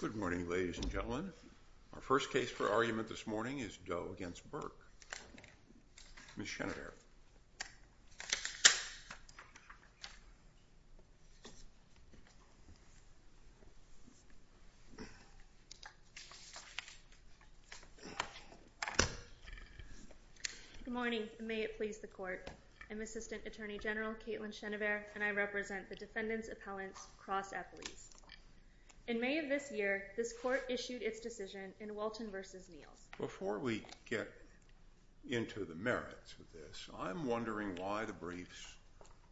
Good morning, ladies and gentlemen. Our first case for argument this morning is Doe v. Burke. Ms. Chenevert. Good morning, and may it please the court. I'm Assistant Attorney General Caitlin Chenevert, and I represent the Defendant's Appellant's Cross Appellees. In May of this year, this court issued its decision in Walton v. Neils. Before we get into the merits of this, I'm wondering why the briefs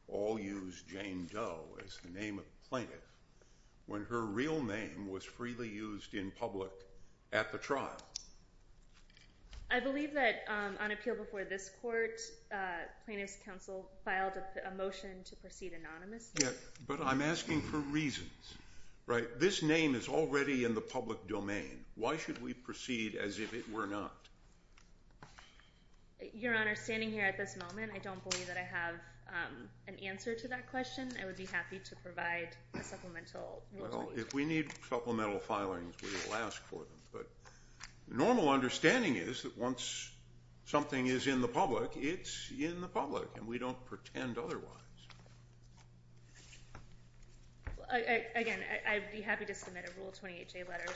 all use Jane Doe as the name of the plaintiff when her real name was freely used in public at the trial. I believe that on appeal before this court, plaintiff's counsel filed a motion to proceed anonymously. But I'm asking for reasons, right? This name is already in the public domain. Why should we proceed as if it were not? Your Honor, standing here at this moment, I don't believe that I have an answer to that question. I would be happy to provide a supplemental motion. Again, I would be happy to submit a Rule 28J letter, a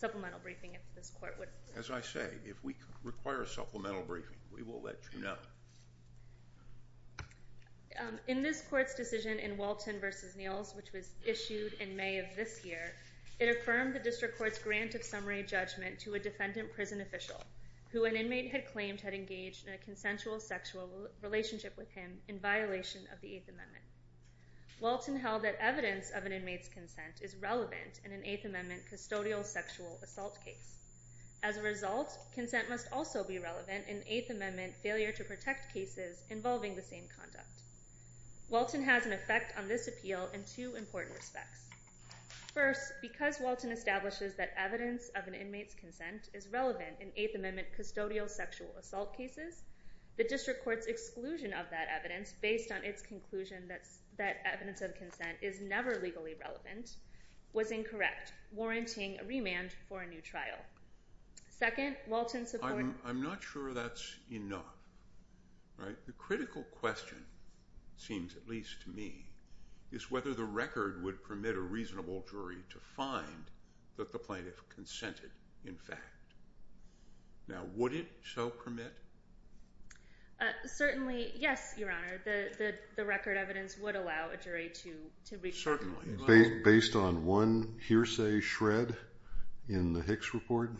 supplemental briefing, if this court would... As I say, if we require a supplemental briefing, we will let you know. In this court's decision in Walton v. Neils, which was issued in May of this year, it affirmed the District Court's grant of summary judgment to a defendant prison official who an inmate had claimed had engaged in a consensual sexual relationship with him in violation of the Eighth Amendment. Walton held that evidence of an inmate's consent is relevant in an Eighth Amendment custodial sexual assault case. As a result, consent must also be relevant in Eighth Amendment failure to protect cases involving the same conduct. Walton has an effect on this appeal in two important respects. First, because Walton establishes that evidence of an inmate's consent is relevant in Eighth Amendment custodial sexual assault cases, the District Court's exclusion of that evidence based on its conclusion that evidence of consent is never legally relevant was incorrect, warranting a remand for a new trial. Second, Walton supports... I'm not sure that's enough. The critical question, it seems at least to me, is whether the record would permit a reasonable jury to find that the plaintiff consented, in fact. Now, would it so permit? Certainly, yes, Your Honor. The record evidence would allow a jury to reach that conclusion. Based on one hearsay shred in the Hicks report?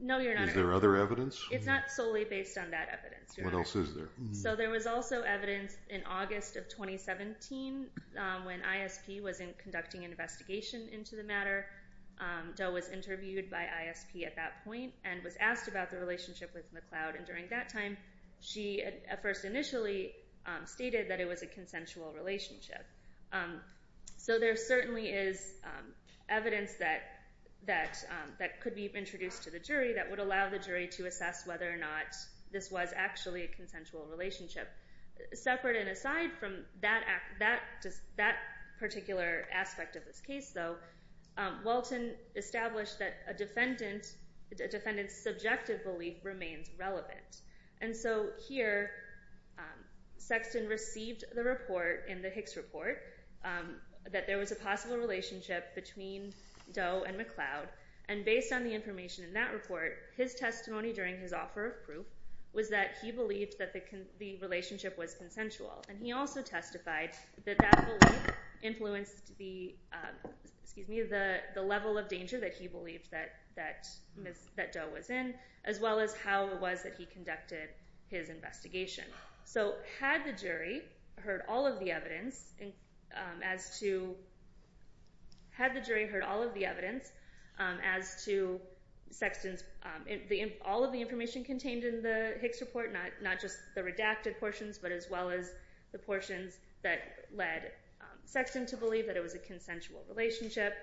No, Your Honor. Is there other evidence? It's not solely based on that evidence, Your Honor. What else is there? So there was also evidence in August of 2017 when ISP was conducting an investigation into the matter. Doe was interviewed by ISP at that point and was asked about the relationship with McLeod. And during that time, she at first initially stated that it was a consensual relationship. So there certainly is evidence that could be introduced to the jury that would allow the jury to assess whether or not this was actually a consensual relationship. Separate and aside from that particular aspect of this case, though, Walton established that a defendant's subjective belief remains relevant. And so here, Sexton received the report in the Hicks report that there was a possible relationship between Doe and McLeod. And based on the information in that report, his testimony during his offer of proof was that he believed that the relationship was consensual. And he also testified that that belief influenced the level of danger that he believed that Doe was in, as well as how it was that he conducted his investigation. So had the jury heard all of the evidence as to Sexton's—all of the information contained in the Hicks report, not just the redacted portions, but as well as the portions that led Sexton to believe that it was a consensual relationship,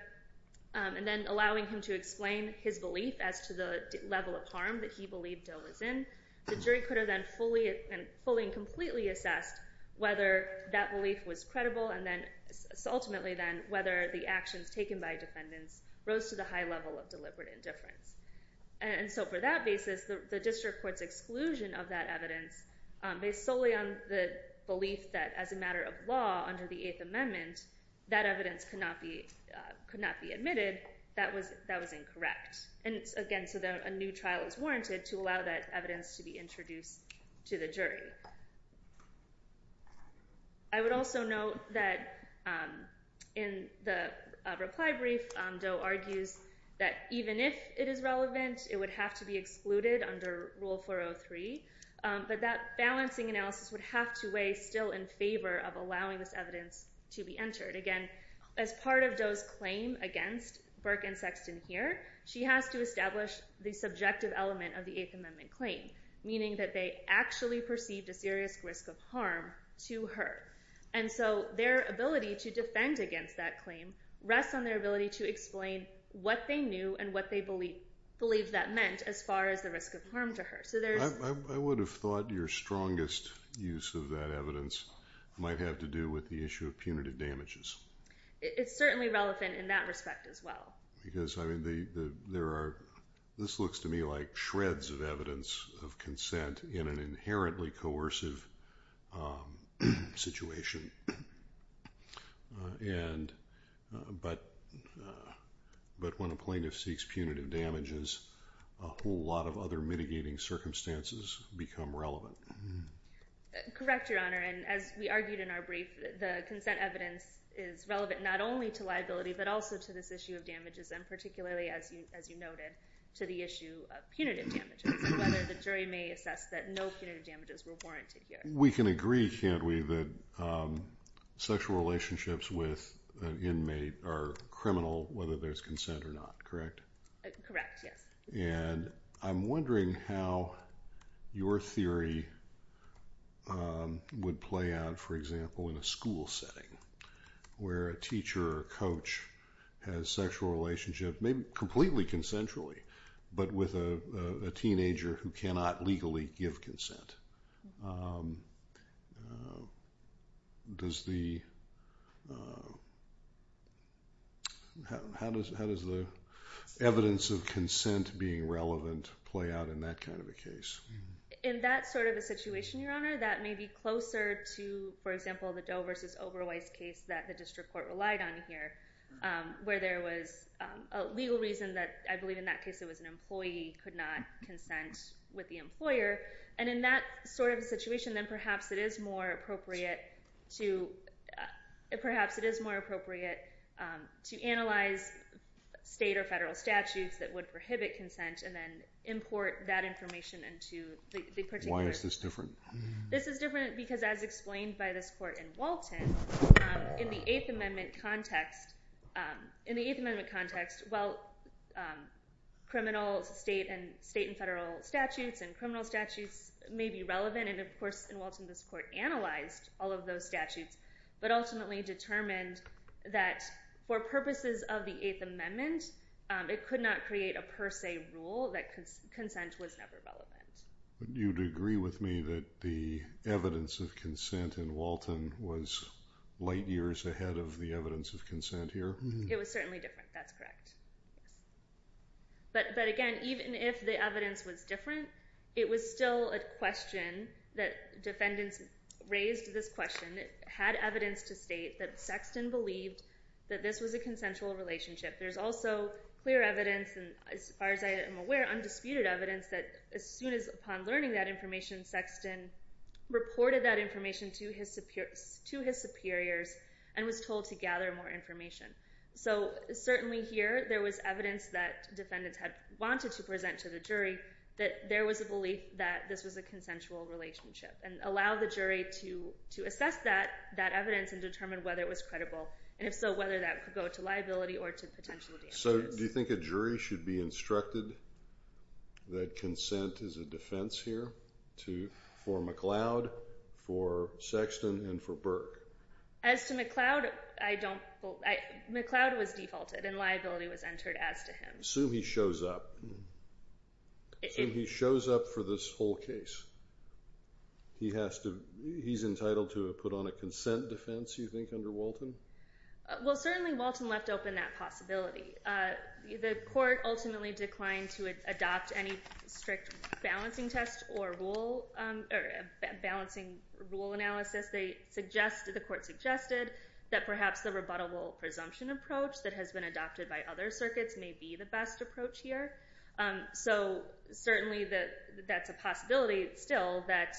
and then allowing him to explain his belief as to the level of harm that he believed Doe was in, the jury could have then fully and completely assessed whether that belief was credible, and then—ultimately then—whether the actions taken by defendants rose to the high level of deliberate indifference. And so for that basis, the district court's exclusion of that evidence, based solely on the belief that as a matter of law under the Eighth Amendment, that evidence could not be admitted, that was incorrect. And again, so a new trial is warranted to allow that evidence to be introduced to the jury. I would also note that in the reply brief, Doe argues that even if it is relevant, it would have to be excluded under Rule 403, but that balancing analysis would have to weigh still in favor of allowing this evidence to be entered. Again, as part of Doe's claim against Burke and Sexton here, she has to establish the subjective element of the Eighth Amendment claim, meaning that they actually perceived a serious risk of harm to her. And so their ability to defend against that claim rests on their ability to explain what they knew and what they believed that meant as far as the risk of harm to her. I would have thought your strongest use of that evidence might have to do with the issue of punitive damages. It's certainly relevant in that respect as well. Because this looks to me like shreds of evidence of consent in an inherently coercive situation. But when a plaintiff seeks punitive damages, a whole lot of other mitigating circumstances become relevant. Correct, Your Honor. And as we argued in our brief, the consent evidence is relevant not only to liability but also to this issue of damages and particularly, as you noted, to the issue of punitive damages and whether the jury may assess that no punitive damages were warranted here. We can agree, can't we, that sexual relationships with an inmate are criminal whether there's consent or not, correct? Correct, yes. And I'm wondering how your theory would play out, for example, in a school setting where a teacher or coach has sexual relationship, maybe completely consensually, but with a teenager who cannot legally give consent. How does the evidence of consent being relevant play out in that kind of a case? In that sort of a situation, Your Honor, that may be closer to, for example, the Doe v. Oberweiss case that the district court relied on here, where there was a legal reason that I believe in that case it was an employee could not consent with the employer. And in that sort of a situation, then perhaps it is more appropriate to analyze state or federal statutes that would prohibit consent and then import that information into the particular. Why is this different? This is different because as explained by this court in Walton, in the Eighth Amendment context, while criminal state and federal statutes and criminal statutes may be relevant, and of course in Walton this court analyzed all of those statutes, but ultimately determined that for purposes of the Eighth Amendment, it could not create a per se rule that consent was never relevant. But you would agree with me that the evidence of consent in Walton was light years ahead of the evidence of consent here? It was certainly different. That's correct. But again, even if the evidence was different, it was still a question that defendants raised this question. It had evidence to state that Sexton believed that this was a consensual relationship. There's also clear evidence, and as far as I am aware, undisputed evidence, that as soon as upon learning that information, Sexton reported that information to his superiors and was told to gather more information. So certainly here there was evidence that defendants had wanted to present to the jury that there was a belief that this was a consensual relationship and allow the jury to assess that evidence and determine whether it was credible, and if so, whether that could go to liability or to potential damages. So do you think a jury should be instructed that consent is a defense here for McLeod, for Sexton, and for Burke? As to McLeod, McLeod was defaulted and liability was entered as to him. Assume he shows up. Assume he shows up for this whole case. He's entitled to put on a consent defense, you think, under Walton? Well, certainly Walton left open that possibility. The court ultimately declined to adopt any strict balancing test or balancing rule analysis. The court suggested that perhaps the rebuttable presumption approach that has been adopted by other circuits may be the best approach here. So certainly that's a possibility still that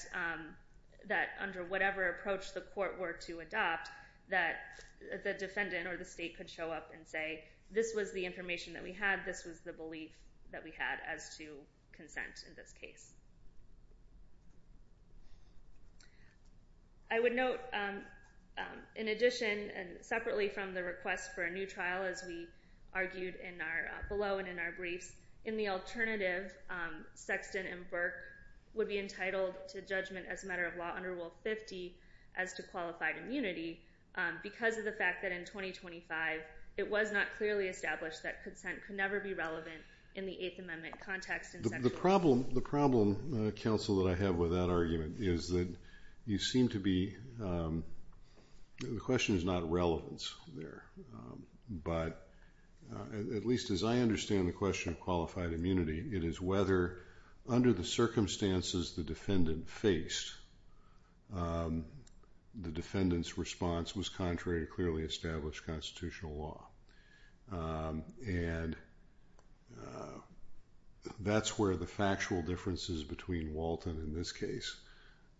under whatever approach the court were to adopt that the defendant or the state could show up and say this was the information that we had, this was the belief that we had as to consent in this case. I would note, in addition, and separately from the request for a new trial, as we argued below and in our briefs, in the alternative, Sexton and Burke would be entitled to judgment as a matter of law under Rule 50 as to qualified immunity because of the fact that in 2025 it was not clearly established that consent could never be relevant in the Eighth Amendment context. The problem, counsel, that I have with that argument is that you seem to be, the question is not relevance there, but at least as I understand the question of qualified immunity, it is whether under the circumstances the defendant faced, the defendant's response was contrary to clearly established constitutional law. And that's where the factual differences between Walton in this case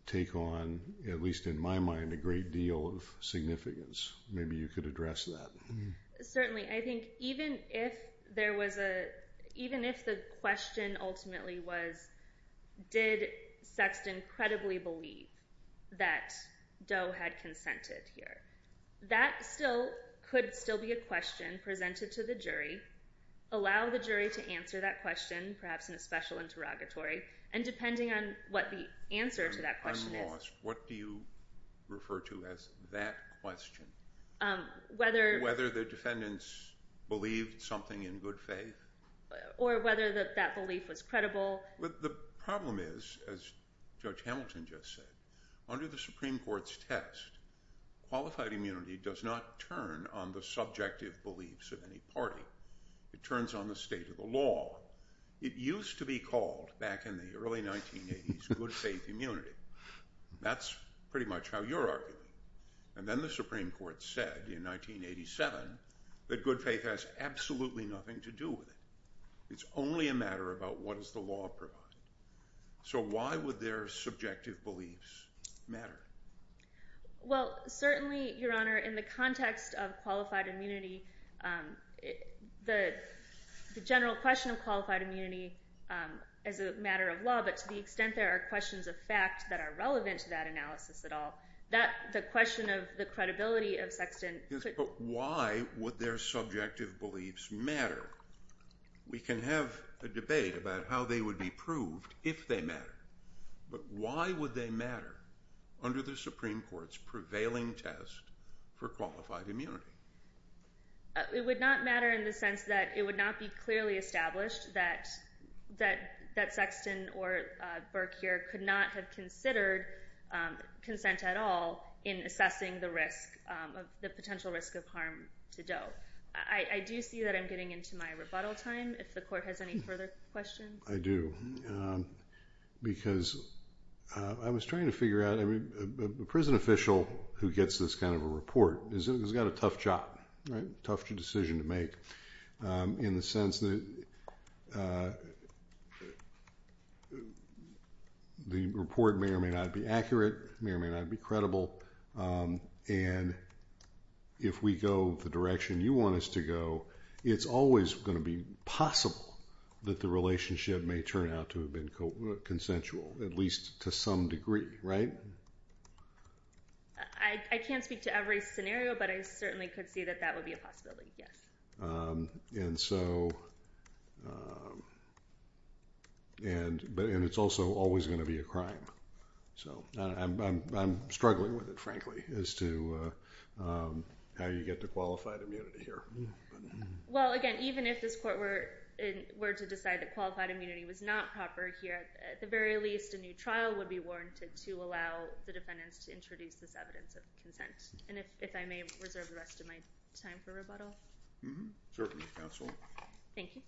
take on, at least in my mind, a great deal of significance. Maybe you could address that. Certainly. I think even if there was a, even if the question ultimately was, did Sexton credibly believe that Doe had consented here? That still could still be a question presented to the jury, allow the jury to answer that question, perhaps in a special interrogatory, and depending on what the answer to that question is… I'm lost. What do you refer to as that question? Whether… Whether the defendants believed something in good faith. Or whether that belief was credible. Well, the problem is, as Judge Hamilton just said, under the Supreme Court's test, qualified immunity does not turn on the subjective beliefs of any party. It turns on the state of the law. It used to be called, back in the early 1980s, good faith immunity. That's pretty much how you're arguing. And then the Supreme Court said in 1987 that good faith has absolutely nothing to do with it. It's only a matter about what does the law provide. So why would their subjective beliefs matter? Well, certainly, Your Honor, in the context of qualified immunity, the general question of qualified immunity as a matter of law, but to the extent there are questions of fact that are relevant to that analysis at all, the question of the credibility of Sexton… But why would their subjective beliefs matter? We can have a debate about how they would be proved if they matter. But why would they matter under the Supreme Court's prevailing test for qualified immunity? It would not matter in the sense that it would not be clearly established that Sexton or Burke here could not have considered consent at all in assessing the potential risk of harm to Doe. I do see that I'm getting into my rebuttal time. If the Court has any further questions. I do, because I was trying to figure out… A prison official who gets this kind of a report has got a tough job, a tough decision to make in the sense that the report may or may not be accurate, may or may not be credible. And if we go the direction you want us to go, it's always going to be possible that the relationship may turn out to have been consensual, at least to some degree, right? I can't speak to every scenario, but I certainly could see that that would be a possibility, yes. And so, and it's also always going to be a crime. So, I'm struggling with it, frankly, as to how you get to qualified immunity here. Well, again, even if this Court were to decide that qualified immunity was not proper here, at the very least a new trial would be warranted to allow the defendants to introduce this evidence of consent. And if I may reserve the rest of my time for rebuttal. Mm-hmm. Certainly, Counsel. Thank you.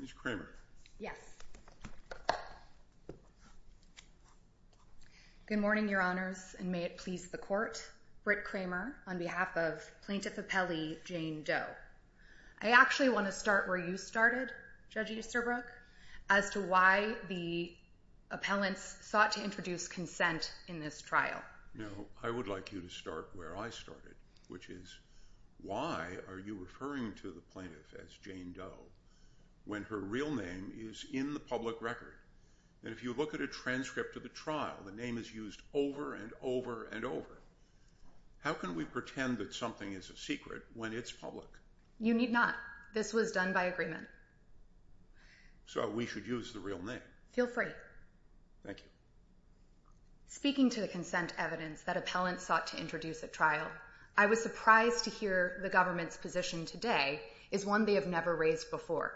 Ms. Kramer. Yes. Good morning, Your Honors, and may it please the Court. Britt Kramer on behalf of Plaintiff Appellee Jane Doe. I actually want to start where you started, Judge Easterbrook, as to why the appellants sought to introduce consent in this trial. Now, I would like you to start where I started, which is why are you referring to the plaintiff as Jane Doe when her real name is in the public record? And if you look at a transcript of the trial, the name is used over and over and over. How can we pretend that something is a secret when it's public? You need not. This was done by agreement. So we should use the real name. Feel free. Thank you. Speaking to the consent evidence that appellants sought to introduce at trial, I was surprised to hear the government's position today is one they have never raised before,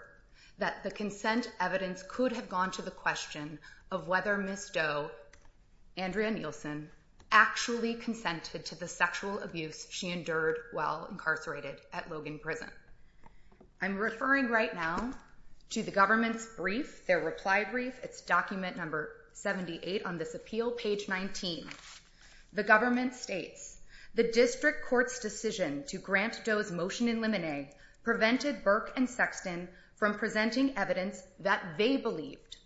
that the consent evidence could have gone to the question of whether Ms. Doe, Andrea Nielsen, actually consented to the sexual abuse she endured while incarcerated at Logan Prison. I'm referring right now to the government's brief, their reply brief. It's document number 78 on this appeal, page 19. The government states, the district court's decision to grant Doe's motion in limine prevented Burke and Sexton from presenting evidence that they believed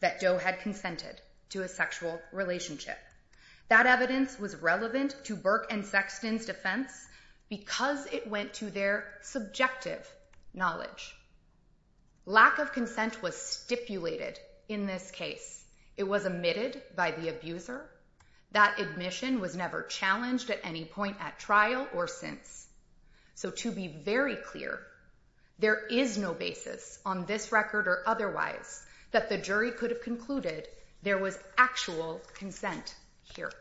that Doe had consented to a sexual relationship. That evidence was relevant to Burke and Sexton's defense because it went to their subjective knowledge. Lack of consent was stipulated in this case. It was omitted by the abuser. That admission was never challenged at any point at trial or since. So to be very clear, there is no basis on this record or otherwise that the jury could have concluded there was actual consent here.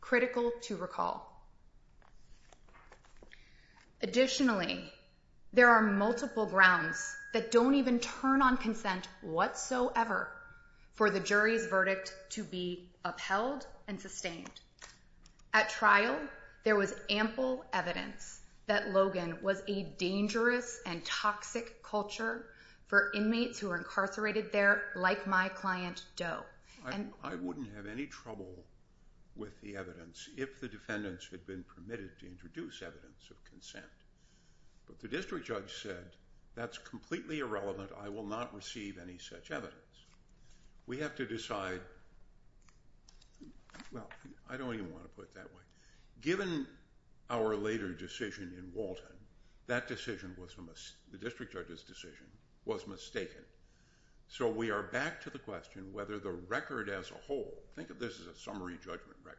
Critical to recall. Additionally, there are multiple grounds that don't even turn on consent whatsoever for the jury's verdict to be upheld and sustained. At trial, there was ample evidence that Logan was a dangerous and toxic culture for inmates who were incarcerated there like my client, Doe. I wouldn't have any trouble with the evidence if the defendants had been permitted to introduce evidence of consent. But the district judge said, that's completely irrelevant, I will not receive any such evidence. We have to decide... Well, I don't even want to put it that way. Given our later decision in Walton, the district judge's decision was mistaken. So we are back to the question whether the record as a whole, think of this as a summary judgment record,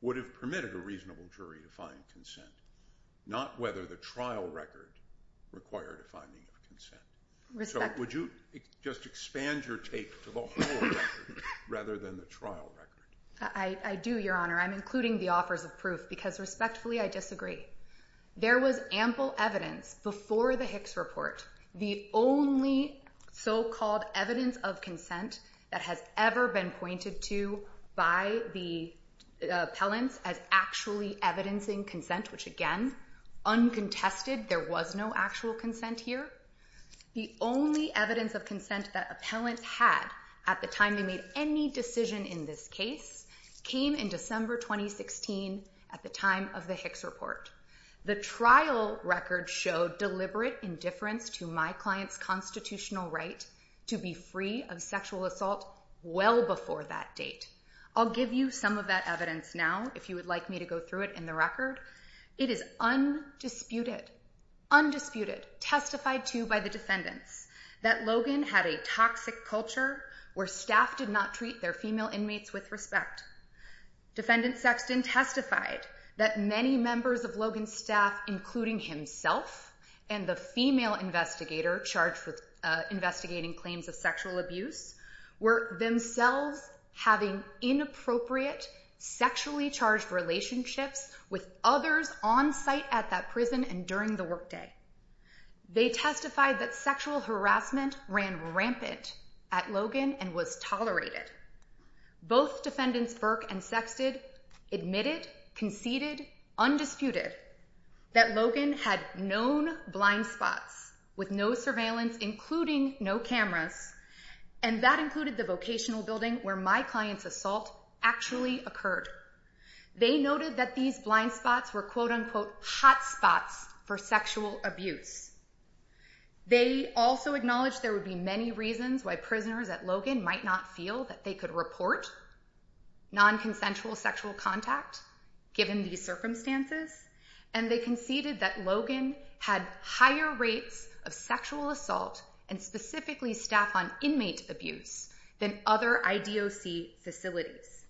would have permitted a reasonable jury to find consent, not whether the trial record required a finding of consent. So would you just expand your take to the whole record rather than the trial record? I do, Your Honor, I'm including the offers of proof because respectfully, I disagree. There was ample evidence before the Hicks report, the only so-called evidence of consent that has ever been pointed to by the appellants as actually evidencing consent, which again, uncontested, there was no actual consent here. The only evidence of consent that appellants had at the time they made any decision in this case came in December 2016 at the time of the Hicks report. The trial record showed deliberate indifference to my client's constitutional right to be free of sexual assault well before that date. I'll give you some of that evidence now if you would like me to go through it in the record. It is undisputed, undisputed, testified to by the defendants that Logan had a toxic culture where staff did not treat their female inmates with respect. Defendant Sexton testified that many members of Logan's staff, including himself and the female investigator charged with investigating claims of sexual abuse, were themselves having inappropriate, sexually charged relationships with others on site at that prison and during the workday. They testified that sexual harassment ran rampant at Logan and was tolerated. Both defendants, Burke and Sexton, admitted, conceded, undisputed that Logan had known blind spots with no surveillance, including no cameras, and that included the vocational building where my client's assault actually occurred. They noted that these blind spots were quote-unquote hot spots for sexual abuse. They also acknowledged there would be many reasons why prisoners at Logan might not feel that they could report nonconsensual sexual contact given these circumstances, and they conceded that Logan had higher rates of sexual assault and specifically staff on inmate abuse than other IDOC facilities.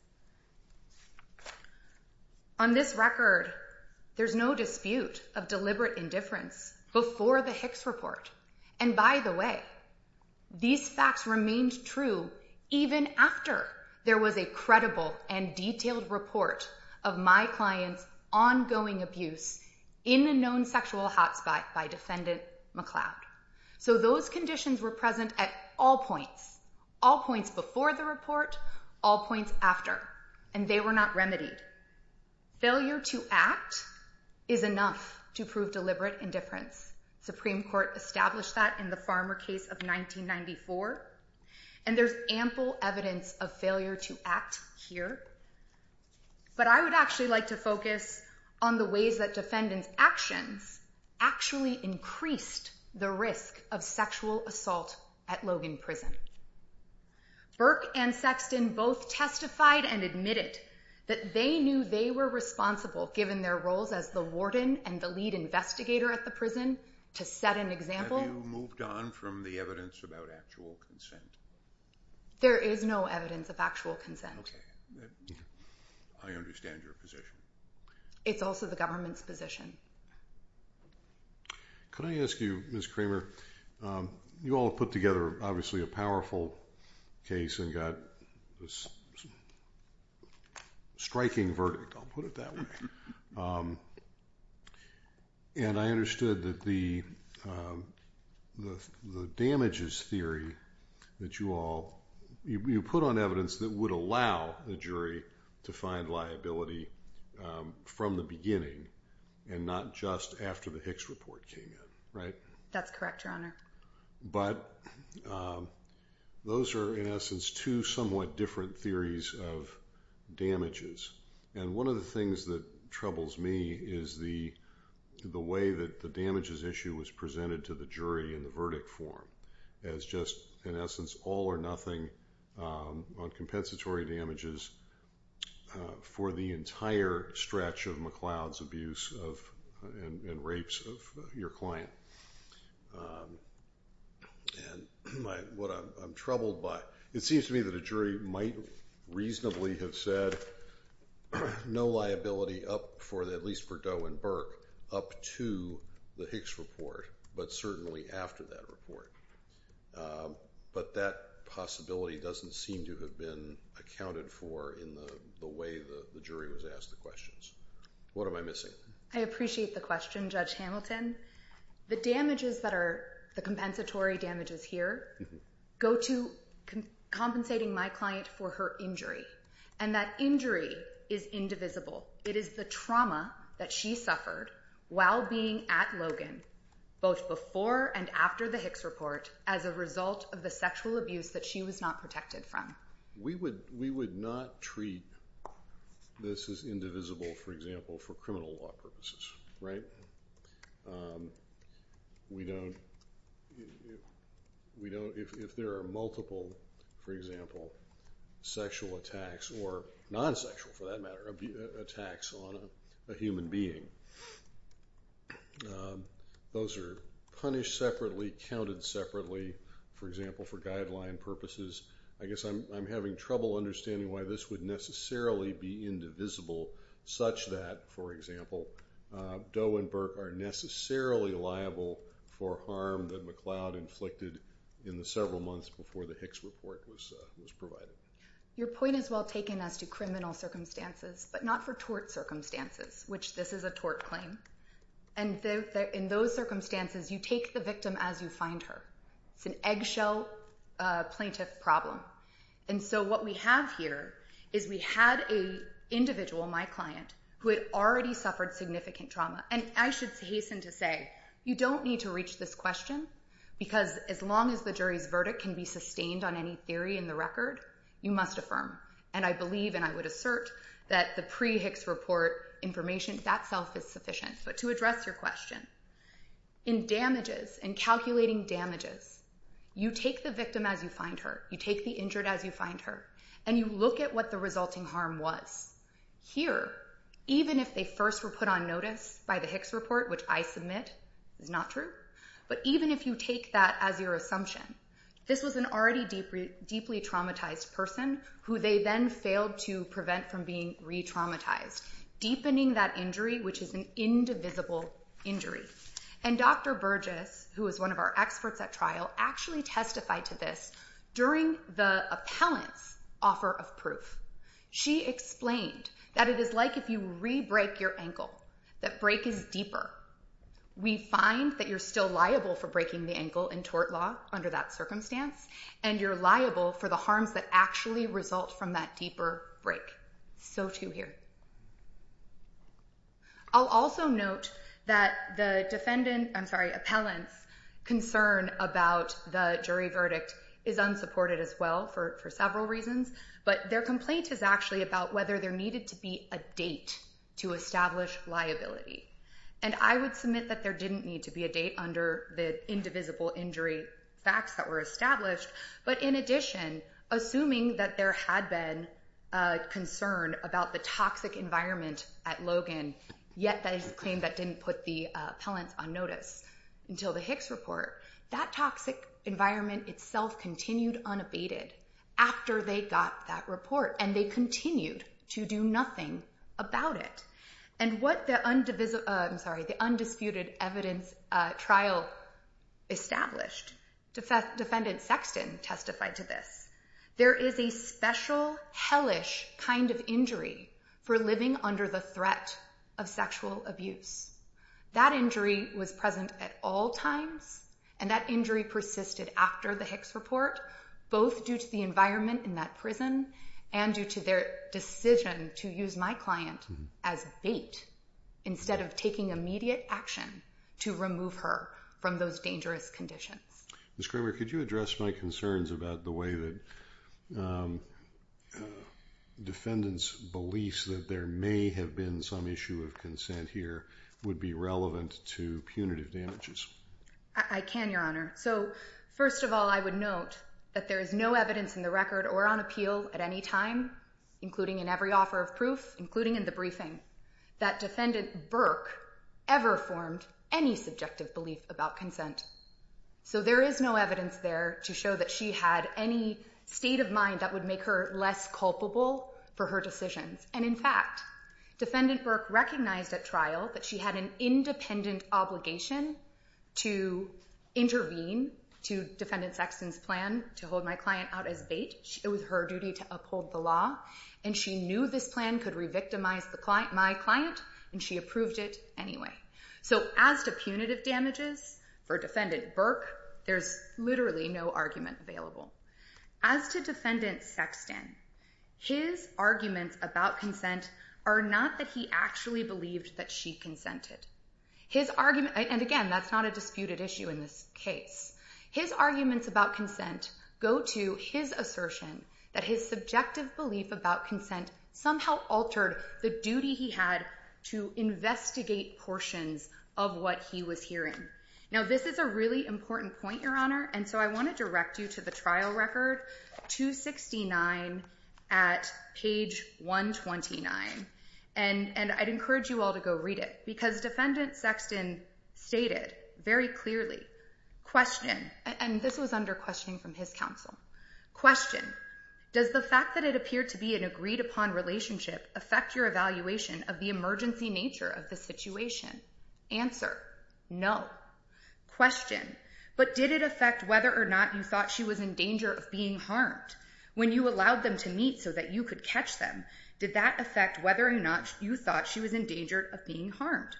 On this record, there's no dispute of deliberate indifference before the Hicks Report. And by the way, these facts remained true even after there was a credible and detailed report of my client's ongoing abuse in a known sexual hot spot by Defendant McCloud. So those conditions were present at all points, all points before the report, all points after, and they were not remedied. Failure to act is enough to prove deliberate indifference. Supreme Court established that in the Farmer case of 1994, and there's ample evidence of failure to act here. But I would actually like to focus on the ways that Defendant's actions actually increased the risk of sexual assault at Logan Prison. Burke and Sexton both testified and admitted that they knew they were responsible given their roles as the warden and the lead investigator at the prison. To set an example... Have you moved on from the evidence about actual consent? There is no evidence of actual consent. Okay. I understand your position. It's also the government's position. Can I ask you, Ms. Kramer, you all put together, obviously, a powerful case and got a striking verdict, I'll put it that way. And I understood that the damages theory that you all... You put on evidence that would allow the jury to find liability from the beginning and not just after the Hicks report came in, right? That's correct, Your Honor. But those are, in essence, two somewhat different theories of damages. And one of the things that troubles me is the way that the damages issue was presented to the jury in the verdict form as just, in essence, all or nothing on compensatory damages for the entire stretch of McLeod's abuse and rapes of your client. And what I'm troubled by... It seems to me that a jury might reasonably have said no liability up for, at least for Doe and Burke, up to the Hicks report, but certainly after that report. But that possibility doesn't seem to have been accounted for in the way the jury was asked the questions. What am I missing? I appreciate the question, Judge Hamilton. The damages that are the compensatory damages here go to compensating my client for her injury. And that injury is indivisible. It is the trauma that she suffered while being at Logan, both before and after the Hicks report, as a result of the sexual abuse that she was not protected from. We would not treat this as indivisible, for example, for criminal law purposes, right? We don't... If there are multiple, for example, sexual attacks, or non-sexual, for that matter, attacks on a human being, those are punished separately, counted separately, for example, for guideline purposes. I guess I'm having trouble understanding why this would necessarily be indivisible, such that, for example, Doe and Burke are necessarily liable for harm that McLeod inflicted in the several months before the Hicks report was provided. Your point is well taken as to criminal circumstances, but not for tort circumstances, which this is a tort claim. And in those circumstances, you take the victim as you find her. It's an eggshell plaintiff problem. And so what we have here is we had an individual, my client, who had already suffered significant trauma. And I should hasten to say, you don't need to reach this question, because as long as the jury's verdict can be sustained on any theory in the record, you must affirm. And I believe, and I would assert, that the pre-Hicks report information itself is sufficient. But to address your question, in damages, in calculating damages, you take the victim as you find her, you take the injured as you find her, and you look at what the resulting harm was. Here, even if they first were put on notice by the Hicks report, which I submit is not true, but even if you take that as your assumption, this was an already deeply traumatized person who they then failed to prevent from being re-traumatized, deepening that injury, which is an indivisible injury. And Dr. Burgess, who is one of our experts at trial, actually testified to this during the appellant's offer of proof. She explained that it is like if you re-break your ankle, that break is deeper. We find that you're still liable for breaking the ankle in tort law under that circumstance, and you're liable for the harms that actually result from that deeper break. So too here. I'll also note that the defendant, I'm sorry, appellant's concern about the jury verdict is unsupported as well for several reasons, but their complaint is actually about whether there needed to be a date to establish liability. And I would submit that there didn't need to be a date under the indivisible injury facts that were established, but in addition, assuming that there had been a concern about the toxic environment at Logan, yet that is a claim that didn't put the appellants on notice until the Hicks report, that toxic environment itself continued unabated after they got that report, and they continued to do nothing about it. And what the undisputed evidence trial established, defendant Sexton testified to this, there is a special hellish kind of injury for living under the threat of sexual abuse. That injury was present at all times, and that injury persisted after the Hicks report. Both due to the environment in that prison and due to their decision to use my client as bait, instead of taking immediate action to remove her from those dangerous conditions. Ms. Kramer, could you address my concerns about the way that defendants' beliefs that there may have been some issue of consent here would be relevant to punitive damages? I can, Your Honor. So, first of all, I would note that there is no evidence in the record or on appeal at any time, including in every offer of proof, including in the briefing, that Defendant Burke ever formed any subjective belief about consent. So there is no evidence there to show that she had any state of mind that would make her less culpable for her decisions. And in fact, Defendant Burke recognized at trial that she had an independent obligation to intervene to Defendant Sexton's plan to hold my client out as bait. It was her duty to uphold the law. And she knew this plan could re-victimize my client, and she approved it anyway. So as to punitive damages for Defendant Burke, there's literally no argument available. As to Defendant Sexton, his arguments about consent are not that he actually believed that she consented. His argument... And again, that's not a disputed issue in this case. His arguments about consent go to his assertion that his subjective belief about consent somehow altered the duty he had to investigate portions of what he was hearing. Now, this is a really important point, Your Honor, and so I want to direct you to the trial record, 269 at page 129. And I'd encourage you all to go read it because Defendant Sexton stated very clearly, question... And this was under questioning from his counsel. Does the fact that it appeared to be an agreed-upon relationship affect your evaluation of the emergency nature of the situation? Answer. No. Question. But did it affect whether or not you thought she was in danger of being harmed? When you allowed them to meet so that you could catch them, did that affect whether or not you thought she was in danger of being harmed?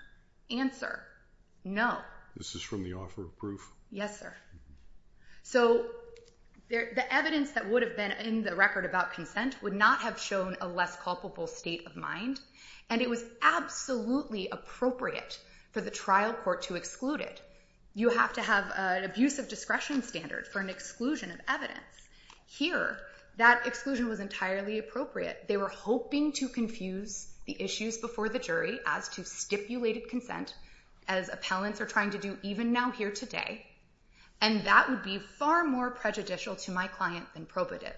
No. This is from the offer of proof? Yes, sir. So the evidence that would have been in the record about consent would not have shown a less culpable state of mind, and it was absolutely appropriate for the trial court to exclude it. You have to have an abusive discretion standard for an exclusion of evidence. Here, that exclusion was entirely appropriate. They were hoping to confuse the issues before the jury as to stipulated consent, as appellants are trying to do even now here today, and that would be far more prejudicial to my client than probative.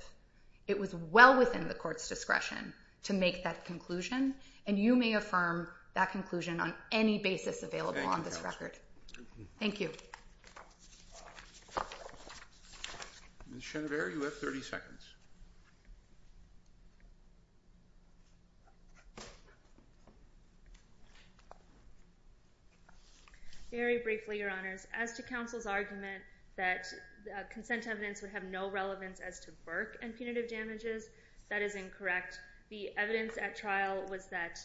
It was well within the court's discretion to make that conclusion, and you may affirm that conclusion on any basis available on this record. Thank you. Ms. Chenever, you have 30 seconds. Very briefly, Your Honors. As to counsel's argument that consent evidence would have no relevance as to Burke and punitive damages, that is incorrect. The evidence at trial was that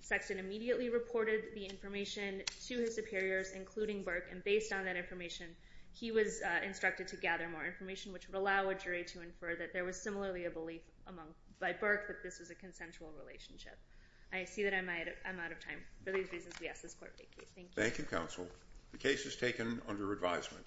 Sexton immediately reported the information to his superiors, including Burke, and based on that information, he was instructed to gather more information, which would allow a jury to infer that there was similarly a belief by Burke that this was a consensual relationship. I see that I'm out of time. For these reasons, we ask this court take you. Thank you. Thank you, counsel. The case is taken under advisement.